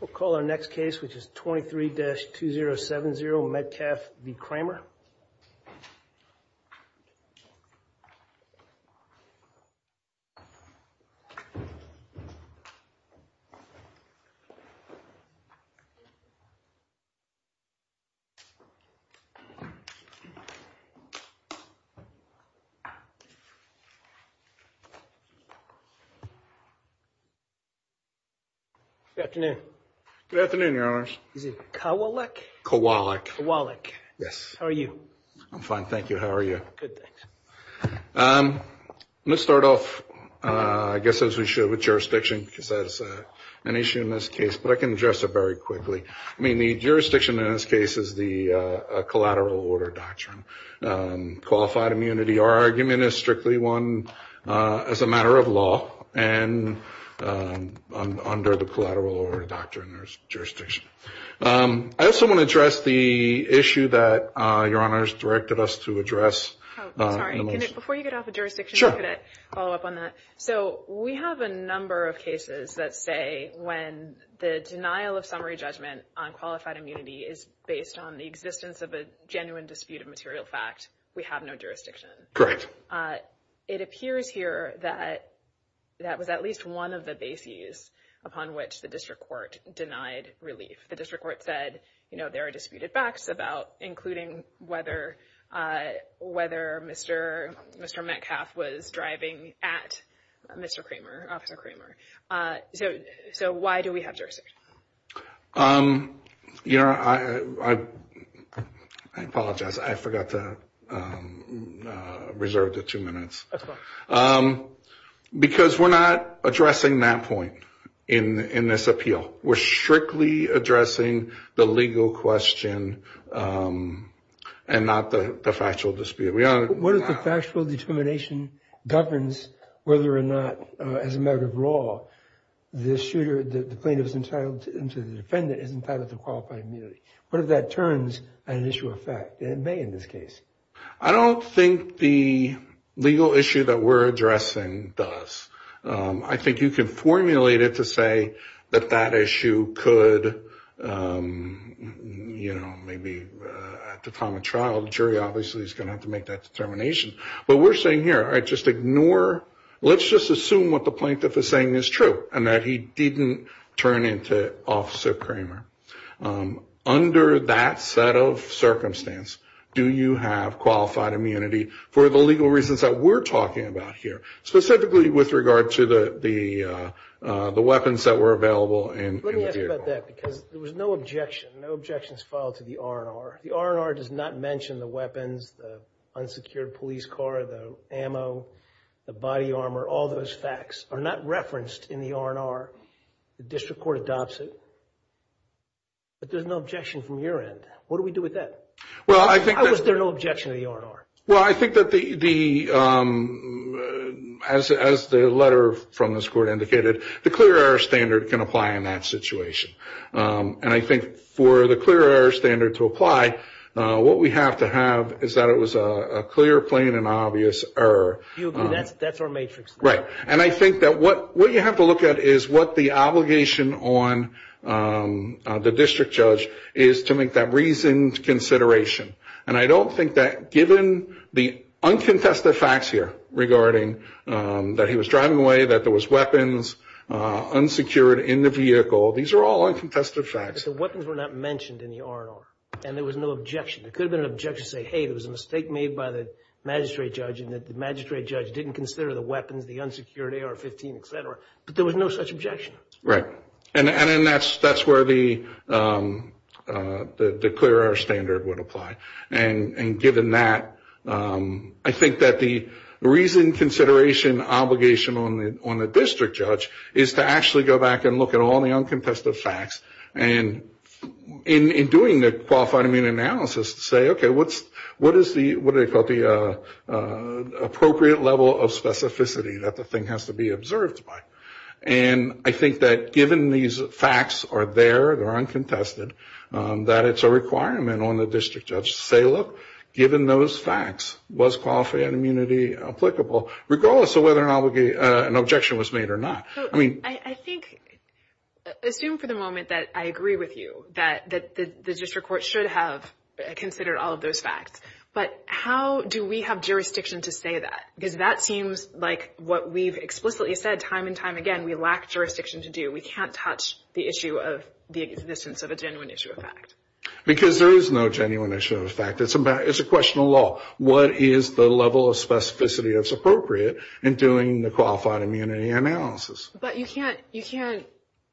We'll call our next case, which is 23-2070 Medcalf V.Cramer. Good afternoon. Good afternoon, Your Honors. Is it Kowalik? Kowalik. Kowalik. Yes. How are you? I'm fine, thank you. How are you? Good, thanks. Let's start off, I guess as we should, with jurisdiction, because that is an issue in this case. But I can address it very quickly. I mean, the jurisdiction in this case is the collateral order doctrine. Qualified immunity, our argument is strictly one as a matter of law and under the collateral order doctrine jurisdiction. I also want to address the issue that Your Honors directed us to address in the motion. Oh, sorry. Before you get off of jurisdiction, could I follow up on that? Sure. So we have a number of cases that say when the denial of summary judgment on qualified material fact, we have no jurisdiction. Correct. It appears here that that was at least one of the bases upon which the district court denied relief. The district court said, you know, there are disputed facts about including whether Mr. Medcalf was driving at Mr. Cramer, Officer Cramer. So why do we have jurisdiction? Your Honor, I apologize. I forgot to reserve the two minutes. That's fine. Because we're not addressing that point in this appeal. We're strictly addressing the legal question and not the factual dispute. What if the factual determination governs whether or not, as a matter of law, the shooter, the plaintiff's entitlement to the defendant is entitled to qualified immunity? What if that turns an issue of fact? It may in this case. I don't think the legal issue that we're addressing does. I think you can formulate it to say that that issue could, you know, maybe at the time of trial, the jury obviously is going to have to make that determination. But we're saying here, just ignore, let's just assume what the plaintiff is saying is true and that he didn't turn into Officer Cramer. Under that set of circumstance, do you have qualified immunity for the legal reasons that we're talking about here, specifically with regard to the weapons that were available in the vehicle? Let me ask you about that because there was no objection. No objections filed to the R&R. The R&R does not mention the weapons, the unsecured police car, the ammo, the body armor. All those facts are not referenced in the R&R. The district court adopts it. But there's no objection from your end. What do we do with that? How is there no objection to the R&R? Well, I think that as the letter from this court indicated, the clear error standard can apply in that situation. And I think for the clear error standard to apply, what we have to have is that it was a clear, plain, and obvious error. That's our matrix. Right. And I think that what you have to look at is what the obligation on the district judge is to make that reasoned consideration. And I don't think that given the uncontested facts here regarding that he was driving away, that there was weapons unsecured in the vehicle, these are all uncontested facts. But the weapons were not mentioned in the R&R and there was no objection. There could have been an objection to say, hey, there was a mistake made by the magistrate judge and that the magistrate judge didn't consider the weapons, the unsecured AR-15, et cetera. But there was no such objection. Right. And that's where the clear error standard would apply. And given that, I think that the reasoned consideration obligation on the district judge is to actually go back and look at all the uncontested facts. And in doing the qualified immunity analysis, say, okay, what is the appropriate level of specificity that the thing has to be observed by? And I think that given these facts are there, they're uncontested, that it's a requirement on the district judge to say, look, given those facts, was qualified immunity applicable, regardless of whether an objection was made or not? I think, assume for the moment that I agree with you that the district court should have considered all of those facts. But how do we have jurisdiction to say that? Because that seems like what we've explicitly said time and time again, we lack jurisdiction to do. We can't touch the issue of the existence of a genuine issue of fact. Because there is no genuine issue of fact. It's a question of law. What is the level of specificity that's appropriate in doing the qualified immunity analysis? But you can't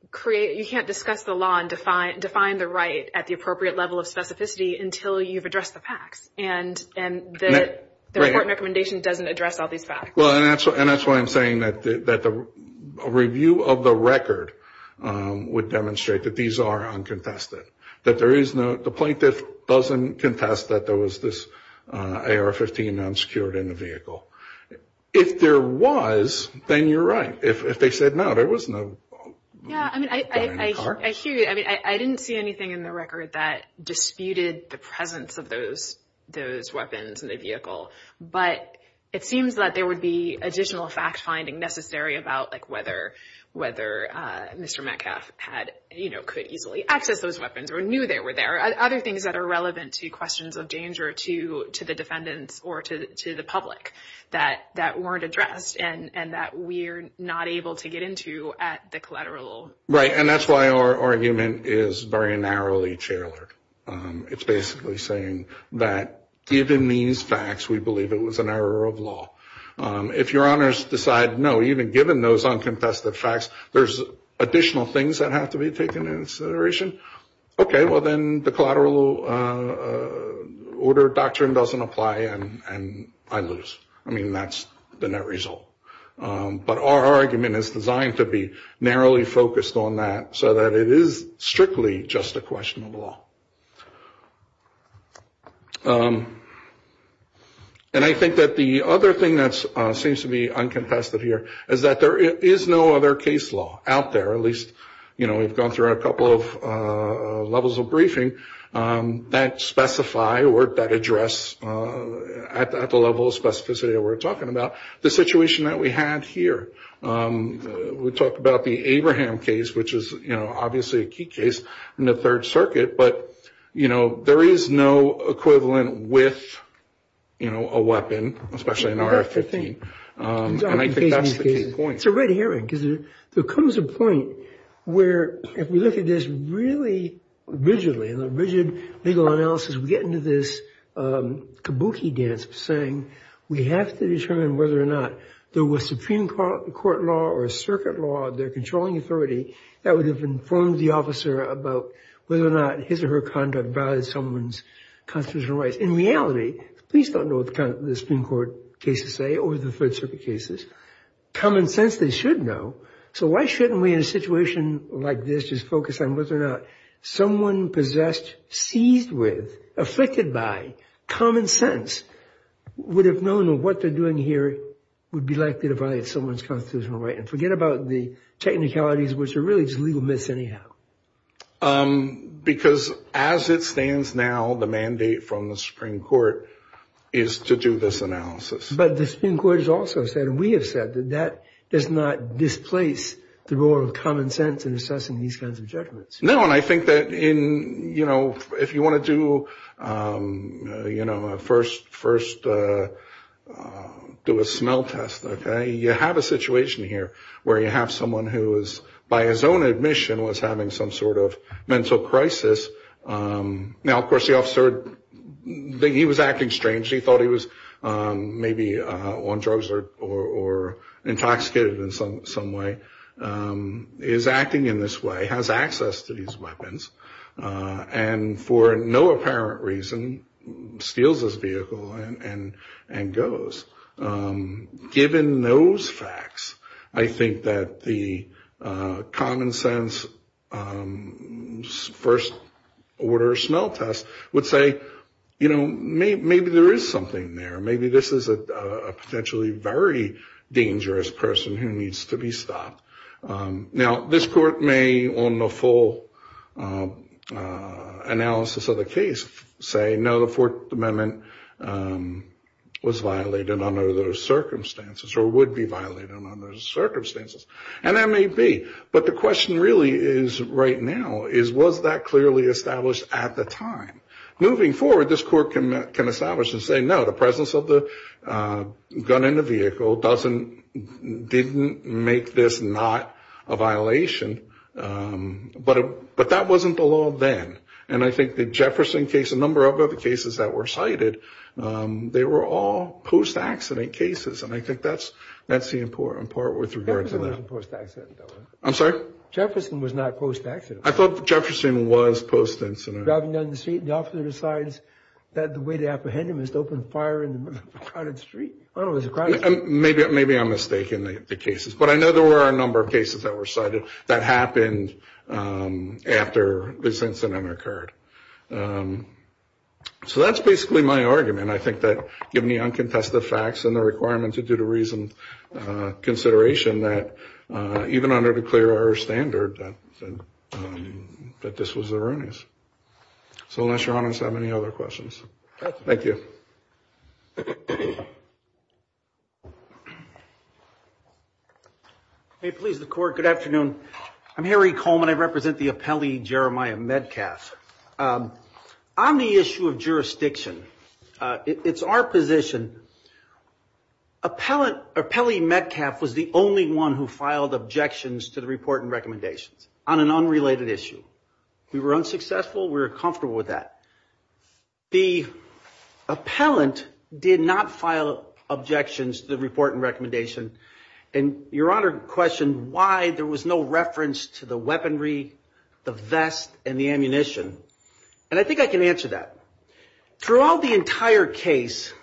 create, you can't discuss the law and define the right at the appropriate level of specificity until you've addressed the facts. And the court recommendation doesn't address all these facts. Well, and that's why I'm saying that the review of the record would demonstrate that these are uncontested. That there is no, the plaintiff doesn't contest that there was this AR-15 unsecured in the vehicle. If there was, then you're right. If they said no, there was no. Yeah, I mean, I hear you. I mean, I didn't see anything in the record that disputed the presence of those weapons in the vehicle. But it seems that there would be additional fact-finding necessary about whether Mr. Metcalf had, you know, could easily access those weapons or knew they were there. Other things that are relevant to questions of danger to the defendants or to the public that weren't addressed and that we're not able to get into at the collateral. Right, and that's why our argument is very narrowly tailored. It's basically saying that given these facts, we believe it was an error of law. If your honors decide no, even given those uncontested facts, there's additional things that have to be taken into consideration. Okay, well then the collateral order doctrine doesn't apply and I lose. I mean, that's the net result. But our argument is designed to be narrowly focused on that so that it is strictly just a question of law. And I think that the other thing that seems to be uncontested here is that there is no other case law out there. At least, you know, we've gone through a couple of levels of briefing that specify or that address at the level of specificity that we're talking about. The situation that we had here, we talked about the Abraham case, which is, you know, obviously a key case in the Third Circuit. But, you know, there is no equivalent with, you know, a weapon, especially an RF-15. And I think that's the key point. It's a red herring because there comes a point where if we look at this really rigidly, in a rigid legal analysis, we get into this kabuki dance of saying we have to determine whether or not there was Supreme Court law or a circuit law, their controlling authority, that would have informed the officer about whether or not his or her conduct violated someone's constitutional rights. In reality, please don't know what the Supreme Court cases say or the Third Circuit cases. Common sense, they should know. So why shouldn't we, in a situation like this, just focus on whether or not someone possessed, seized with, afflicted by, common sense would have known that what they're doing here would be likely to violate someone's constitutional right? And forget about the technicalities, which are really just legal myths anyhow. Because as it stands now, the mandate from the Supreme Court is to do this analysis. But the Supreme Court has also said, and we have said, that that does not displace the role of common sense in assessing these kinds of judgments. No, and I think that in, you know, if you want to do, you know, first do a smell test, okay, you have a situation here where you have someone who is, by his own admission, was having some sort of mental crisis. Now, of course, the officer, he was acting strange. He thought he was maybe on drugs or intoxicated in some way. He's acting in this way, has access to these weapons, and for no apparent reason steals this vehicle and goes. Given those facts, I think that the common sense first order smell test would say, you know, maybe there is something there. Maybe this is a potentially very dangerous person who needs to be stopped. Now, this court may, on the full analysis of the case, say, no, the Fourth Amendment was violated. Under those circumstances, or would be violated under those circumstances, and that may be. But the question really is, right now, is was that clearly established at the time? Moving forward, this court can establish and say, no, the presence of the gun in the vehicle doesn't, didn't make this not a violation. But that wasn't the law then, and I think the Jefferson case, a number of other cases that were cited, they were all post-accident cases, and I think that's the important part with regard to that. Jefferson wasn't post-accident, though, was it? I'm sorry? Jefferson was not post-accident. I thought Jefferson was post-incident. Driving down the street and the officer decides that the way to apprehend him is to open fire in the middle of a crowded street. I don't know, it was a crowded street. Maybe I'm mistaken in the cases, but I know there were a number of cases that were cited that happened after this incident occurred. So that's basically my argument. I think that given the uncontested facts and the requirement to do the reasoned consideration, that even under the clear error standard, that this was erroneous. So unless Your Honor has any other questions. Thank you. May it please the Court, good afternoon. I'm Harry Coleman. I represent the appellee, Jeremiah Medcalf. On the issue of jurisdiction, it's our position, appellee Medcalf was the only one who filed objections to the report and recommendations on an unrelated issue. We were unsuccessful. We were comfortable with that. The appellant did not file objections to the report and recommendation, and Your Honor questioned why there was no reference to the weaponry, the vest, and the ammunition. And I think I can answer that. Throughout the entire case,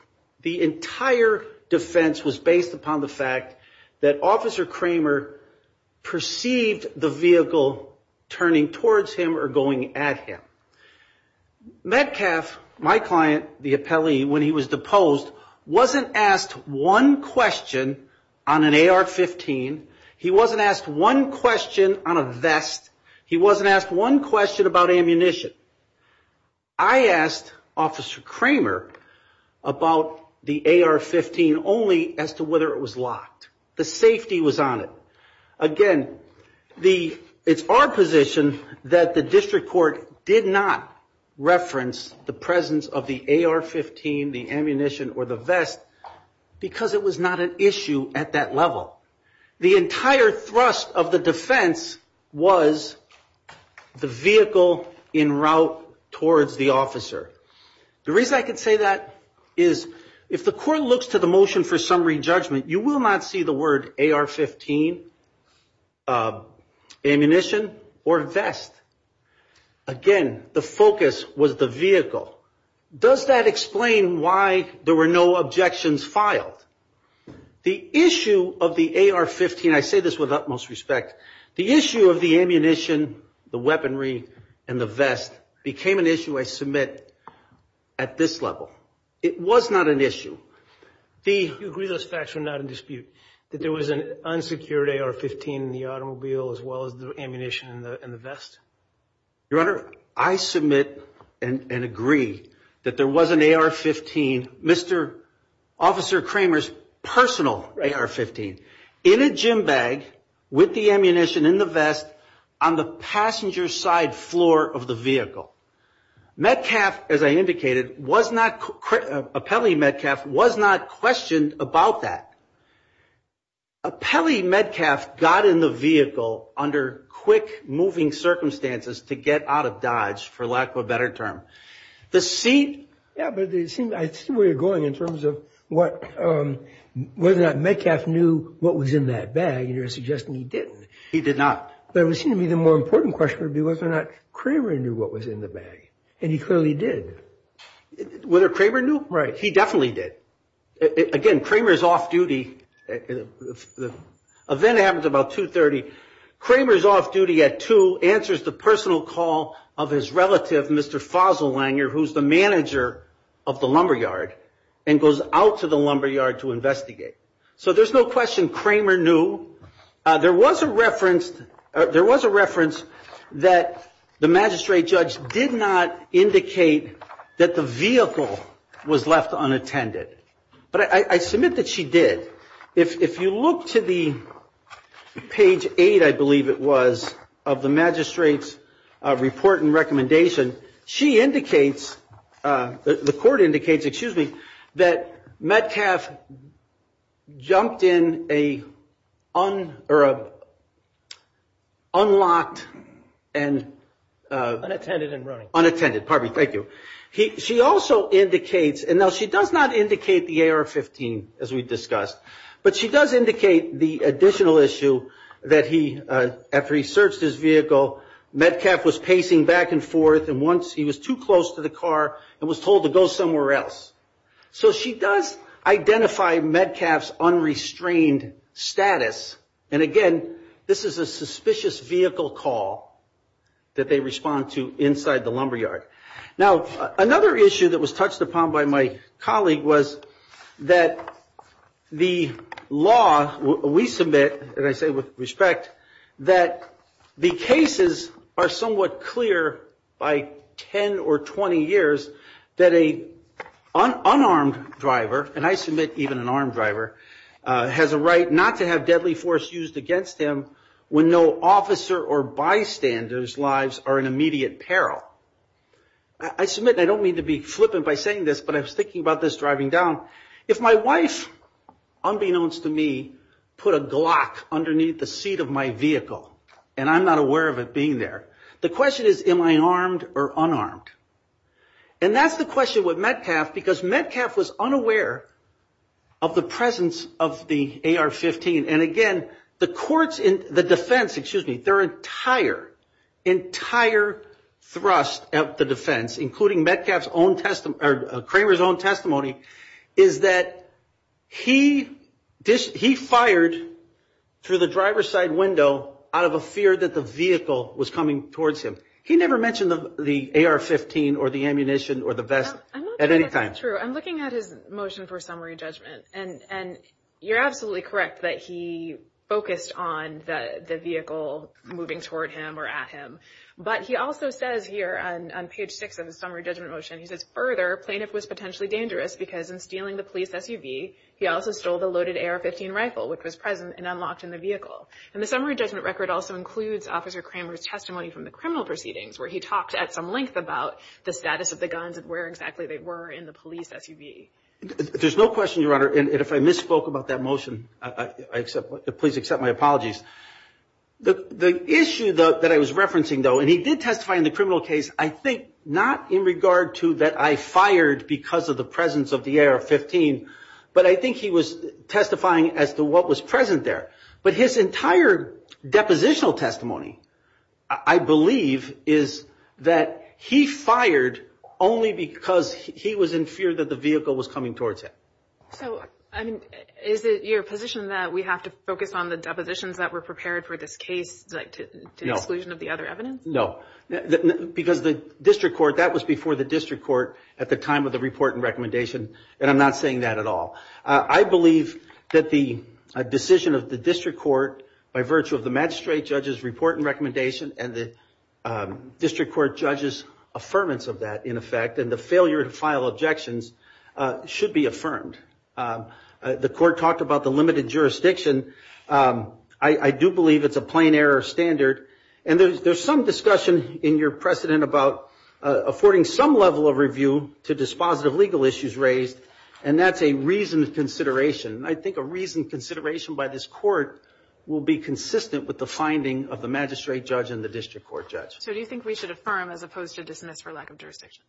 the entire defense was based upon the fact that Officer Kramer perceived the vehicle turning towards him or going at him. Medcalf, my client, the appellee, when he was deposed, wasn't asked one question on an AR-15. He wasn't asked one question on a vest. He wasn't asked one question about ammunition. I asked Officer Kramer about the AR-15 only as to whether it was locked. The safety was on it. Again, it's our position that the district court did not reference the presence of the AR-15, the ammunition, or the vest because it was not an issue at that level. The entire thrust of the defense was the vehicle in route towards the officer. The reason I can say that is if the court looks to the motion for summary judgment, you will not see the word AR-15, ammunition, or vest. Again, the focus was the vehicle. Does that explain why there were no objections filed? The issue of the AR-15, I say this with utmost respect, the issue of the ammunition, the weaponry, and the vest became an issue I submit at this level. It was not an issue. Do you agree those facts were not in dispute, that there was an unsecured AR-15 in the automobile as well as the ammunition in the vest? Your Honor, I submit and agree that there was an AR-15, Mr. Officer Kramer's personal AR-15, in a gym bag with the ammunition in the vest on the passenger side floor of the vehicle. Metcalf, as I indicated, was not, Apelli Metcalf, was not questioned about that. Apelli Metcalf got in the vehicle under quick-moving circumstances to get out of Dodge, for lack of a better term. I see where you're going in terms of whether or not Metcalf knew what was in that bag, and you're suggesting he didn't. He did not. But it would seem to me the more important question would be whether or not Kramer knew what was in the bag, and he clearly did. Whether Kramer knew? Right. He definitely did. Again, Kramer's off-duty. The event happens about 2.30. Kramer's off-duty at 2.00, answers the personal call of his relative, Mr. Fossil-Langer, who's the manager of the lumberyard, and goes out to the lumberyard to investigate. So there's no question Kramer knew. There was a reference that the magistrate judge did not indicate that the vehicle was left unattended. But I submit that she did. If you look to the page 8, I believe it was, of the magistrate's report and recommendation, she indicates, the court indicates, excuse me, that Metcalf jumped in a unlocked and unattended. Parby, thank you. She also indicates, and now she does not indicate the AR-15, as we discussed, but she does indicate the additional issue that he, after he searched his vehicle, Metcalf was pacing back and forth, and once he was too close to the car and was told to go somewhere else. So she does identify Metcalf's unrestrained status. And again, this is a suspicious vehicle call that they respond to inside the lumberyard. Now, another issue that was touched upon by my colleague was that the law, we submit, and I say with respect, that the cases are somewhat clear by 10 or 20 years that an unarmed driver, and I submit even an armed driver, has a right not to have deadly force used against him when no officer or bystander's lives are in immediate peril. I submit, and I don't mean to be flippant by saying this, but I was thinking about this driving down. If my wife, unbeknownst to me, put a Glock underneath the seat of my vehicle, and I'm not aware of it being there, the question is, am I armed or unarmed? And that's the question with Metcalf, because Metcalf was unaware of the presence of the AR-15. And again, the courts in the defense, excuse me, their entire, entire thrust of the defense, including Metcalf's own testimony, or Kramer's own testimony, is that he fired through the driver's side window out of a fear that the vehicle was coming towards him. He never mentioned the AR-15 or the ammunition or the vest at any time. I'm not sure that's true. I'm looking at his motion for summary judgment, and you're absolutely correct that he focused on the vehicle moving toward him or at him. But he also says here on page six of his summary judgment motion, he says, further, plaintiff was potentially dangerous because in stealing the police SUV, he also stole the loaded AR-15 rifle, which was present and unlocked in the vehicle. And the summary judgment record also includes Officer Kramer's testimony from the criminal proceedings, where he talked at some length about the status of the guns and where exactly they were in the police SUV. There's no question, Your Honor, and if I misspoke about that motion, please accept my apologies. The issue, though, that I was referencing, though, and he did testify in the criminal case, I think not in regard to that I fired because of the presence of the AR-15, but I think he was testifying as to what was present there. But his entire depositional testimony, I believe, is that he fired only because he was in fear that the vehicle was coming towards him. So, I mean, is it your position that we have to focus on the depositions that were prepared for this case to exclusion of the other evidence? No. Because the district court, that was before the district court at the time of the report and recommendation, and I'm not saying that at all. I believe that the decision of the district court by virtue of the magistrate judge's report and recommendation and the district court judge's affirmance of that, in effect, and the failure to file objections should be affirmed. The court talked about the limited jurisdiction. I do believe it's a plain error standard. And there's some discussion in your precedent about affording some level of review to dispositive legal issues raised, and that's a reasoned consideration. And I think a reasoned consideration by this court will be consistent with the finding of the magistrate judge and the district court judge. So do you think we should affirm as opposed to dismiss for lack of jurisdiction?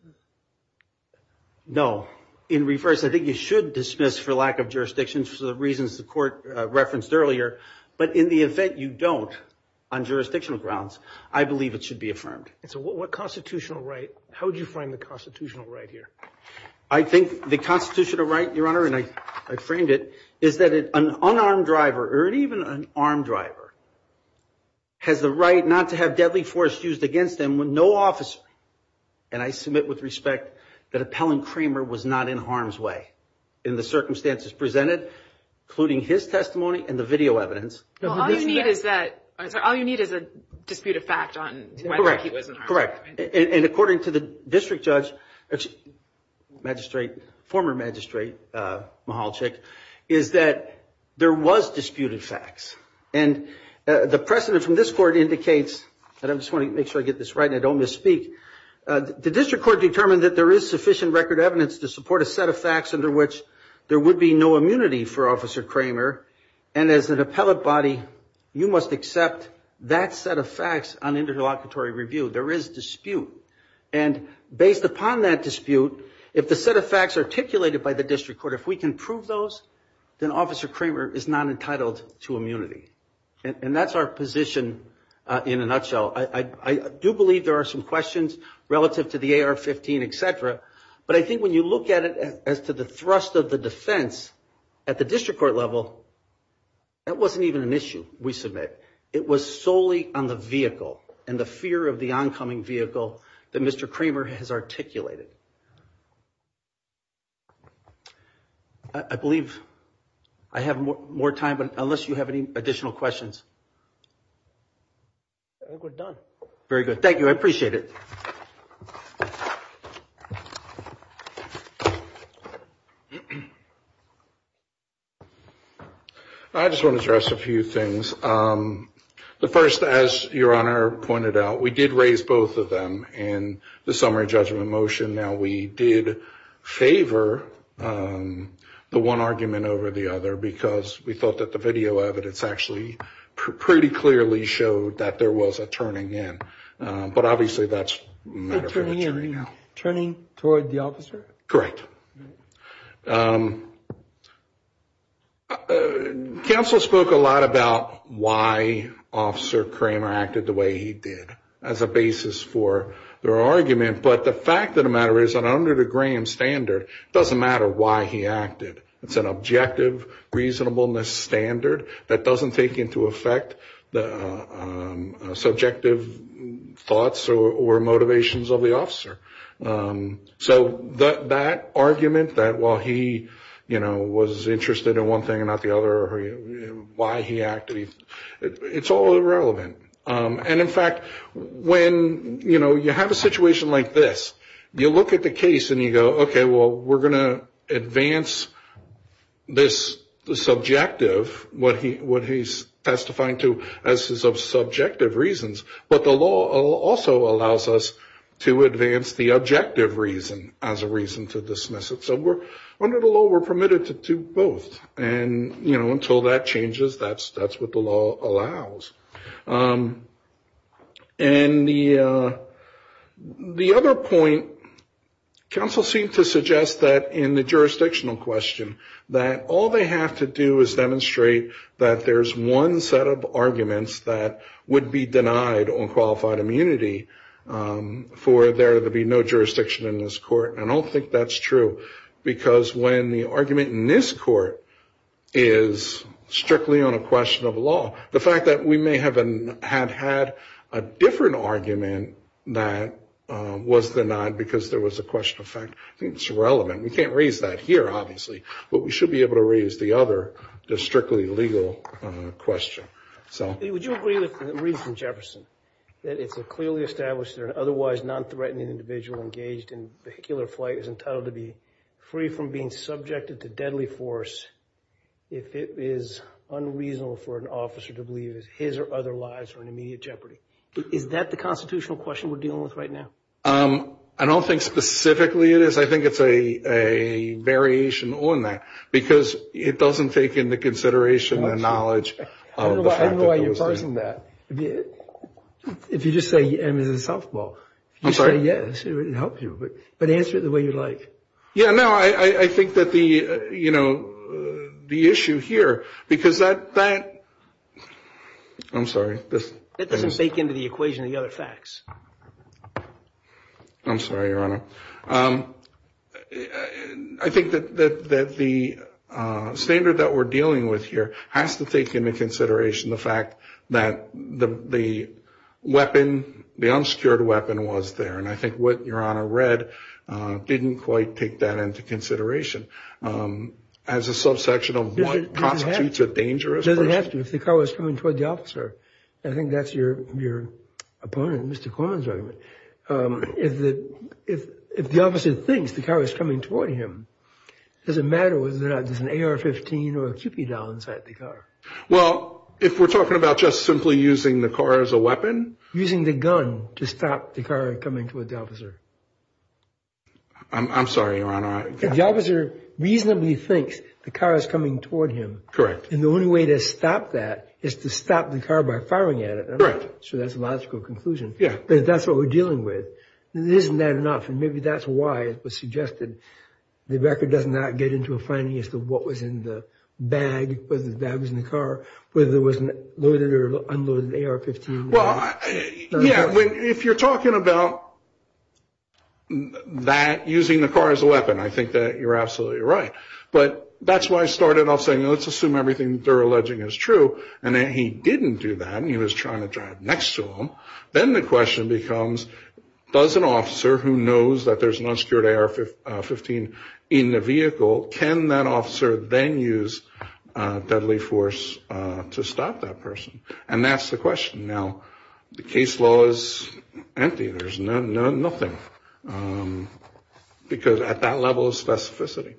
No. In reverse, I think you should dismiss for lack of jurisdiction for the reasons the court referenced earlier. But in the event you don't, on jurisdictional grounds, I believe it should be affirmed. And so what constitutional right, how would you frame the constitutional right here? I think the constitutional right, Your Honor, and I framed it, is that an unarmed driver or even an armed driver has the right not to have deadly force used against them when no officer, and I submit with respect that Appellant Kramer was not in harm's way in the circumstances presented, including his testimony and the video evidence. All you need is a dispute of fact on whether he was in harm's way. Correct. And according to the district judge, magistrate, former magistrate Mahalchik, is that there was disputed facts. And the precedent from this court indicates, and I just want to make sure I get this right and I don't misspeak, the district court determined that there is sufficient record evidence to support a set of facts under which there would be no immunity for Officer Kramer. And as an appellate body, you must accept that set of facts on interlocutory review. There is dispute. And based upon that dispute, if the set of facts articulated by the district court, if we can prove those, then Officer Kramer is not entitled to immunity. And that's our position in a nutshell. I do believe there are some questions relative to the AR-15, et cetera, but I think when you look at it as to the thrust of the defense at the district court level, that wasn't even an issue, we submit. It was solely on the vehicle and the fear of the oncoming vehicle that Mr. Kramer has articulated. I believe I have more time, but unless you have any additional questions. I think we're done. Very good. Thank you. I appreciate it. I just want to address a few things. The first, as Your Honor pointed out, we did raise both of them in the summary judgment motion. Now, we did favor the one argument over the other because we thought that the video evidence actually pretty clearly showed that there was a turning in. But obviously, that's a matter for the jury now. Turning toward the officer? Correct. Counsel spoke a lot about why Officer Kramer acted the way he did as a basis for their argument. But the fact of the matter is that under the Graham standard, it doesn't matter why he acted. It's an objective reasonableness standard that doesn't take into effect the subjective thoughts or motivations of the officer. So that argument that while he was interested in one thing and not the other, why he acted, it's all irrelevant. And in fact, when you have a situation like this, you look at the case and you go, okay, well, we're going to advance this subjective, what he's testifying to, as his subjective reasons. But the law also allows us to advance the objective reason as a reason to dismiss it. So under the law, we're permitted to do both. And, you know, until that changes, that's what the law allows. And the other point, counsel seemed to suggest that in the jurisdictional question, that all they have to do is demonstrate that there's one set of arguments that would be denied on qualified immunity for there to be no jurisdiction in this court. And I don't think that's true because when the argument in this court is strictly on a question of law, the fact that we may have had a different argument that was denied because there was a question of fact, I think it's irrelevant. We can't raise that here, obviously. But we should be able to raise the other, the strictly legal question. Would you agree with the reason, Jefferson, that it's clearly established that an otherwise non-threatening individual engaged in vehicular flight is entitled to be free from being subjected to deadly force if it is unreasonable for an officer to believe his or other lives are in immediate jeopardy? Is that the constitutional question we're dealing with right now? I don't think specifically it is. I think it's a variation on that because it doesn't take into consideration the knowledge of the fact that those things. I don't know why you're parsing that. If you just say M is in softball. I'm sorry? If you say yes, it would help you. But answer it the way you like. Yeah, no, I think that the, you know, the issue here, because that, I'm sorry. It doesn't take into the equation the other facts. I'm sorry, Your Honor. I think that the standard that we're dealing with here has to take into consideration the fact that the weapon, the unsecured weapon was there. And I think what Your Honor read didn't quite take that into consideration. As a subsection of what constitutes a dangerous person. If the car was coming toward the officer, I think that's your opponent, Mr. Corman's argument. If the officer thinks the car is coming toward him, does it matter whether there's an AR-15 or a Cupid doll inside the car? Well, if we're talking about just simply using the car as a weapon? Using the gun to stop the car coming toward the officer. I'm sorry, Your Honor. If the officer reasonably thinks the car is coming toward him. Correct. And the only way to stop that is to stop the car by firing at it. Correct. So that's a logical conclusion. Yeah. But if that's what we're dealing with, isn't that enough? And maybe that's why it was suggested the record does not get into a finding as to what was in the bag, whether the bag was in the car, whether it was loaded or unloaded AR-15. Well, yeah. If you're talking about that, using the car as a weapon, I think that you're absolutely right. But that's why I started off saying, let's assume everything they're alleging is true. And he didn't do that. He was trying to drive next to him. Then the question becomes, does an officer who knows that there's an unsecured AR-15 in the vehicle, can that officer then use deadly force to stop that person? And that's the question. Now, the case law is empty. There's nothing. Because at that level of specificity.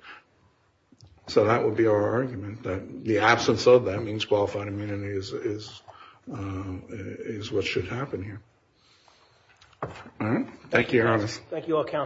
So that would be our argument, that the absence of that means qualified immunity is what should happen here. All right. Thank you, Your Honor. Thank you all, Counsel.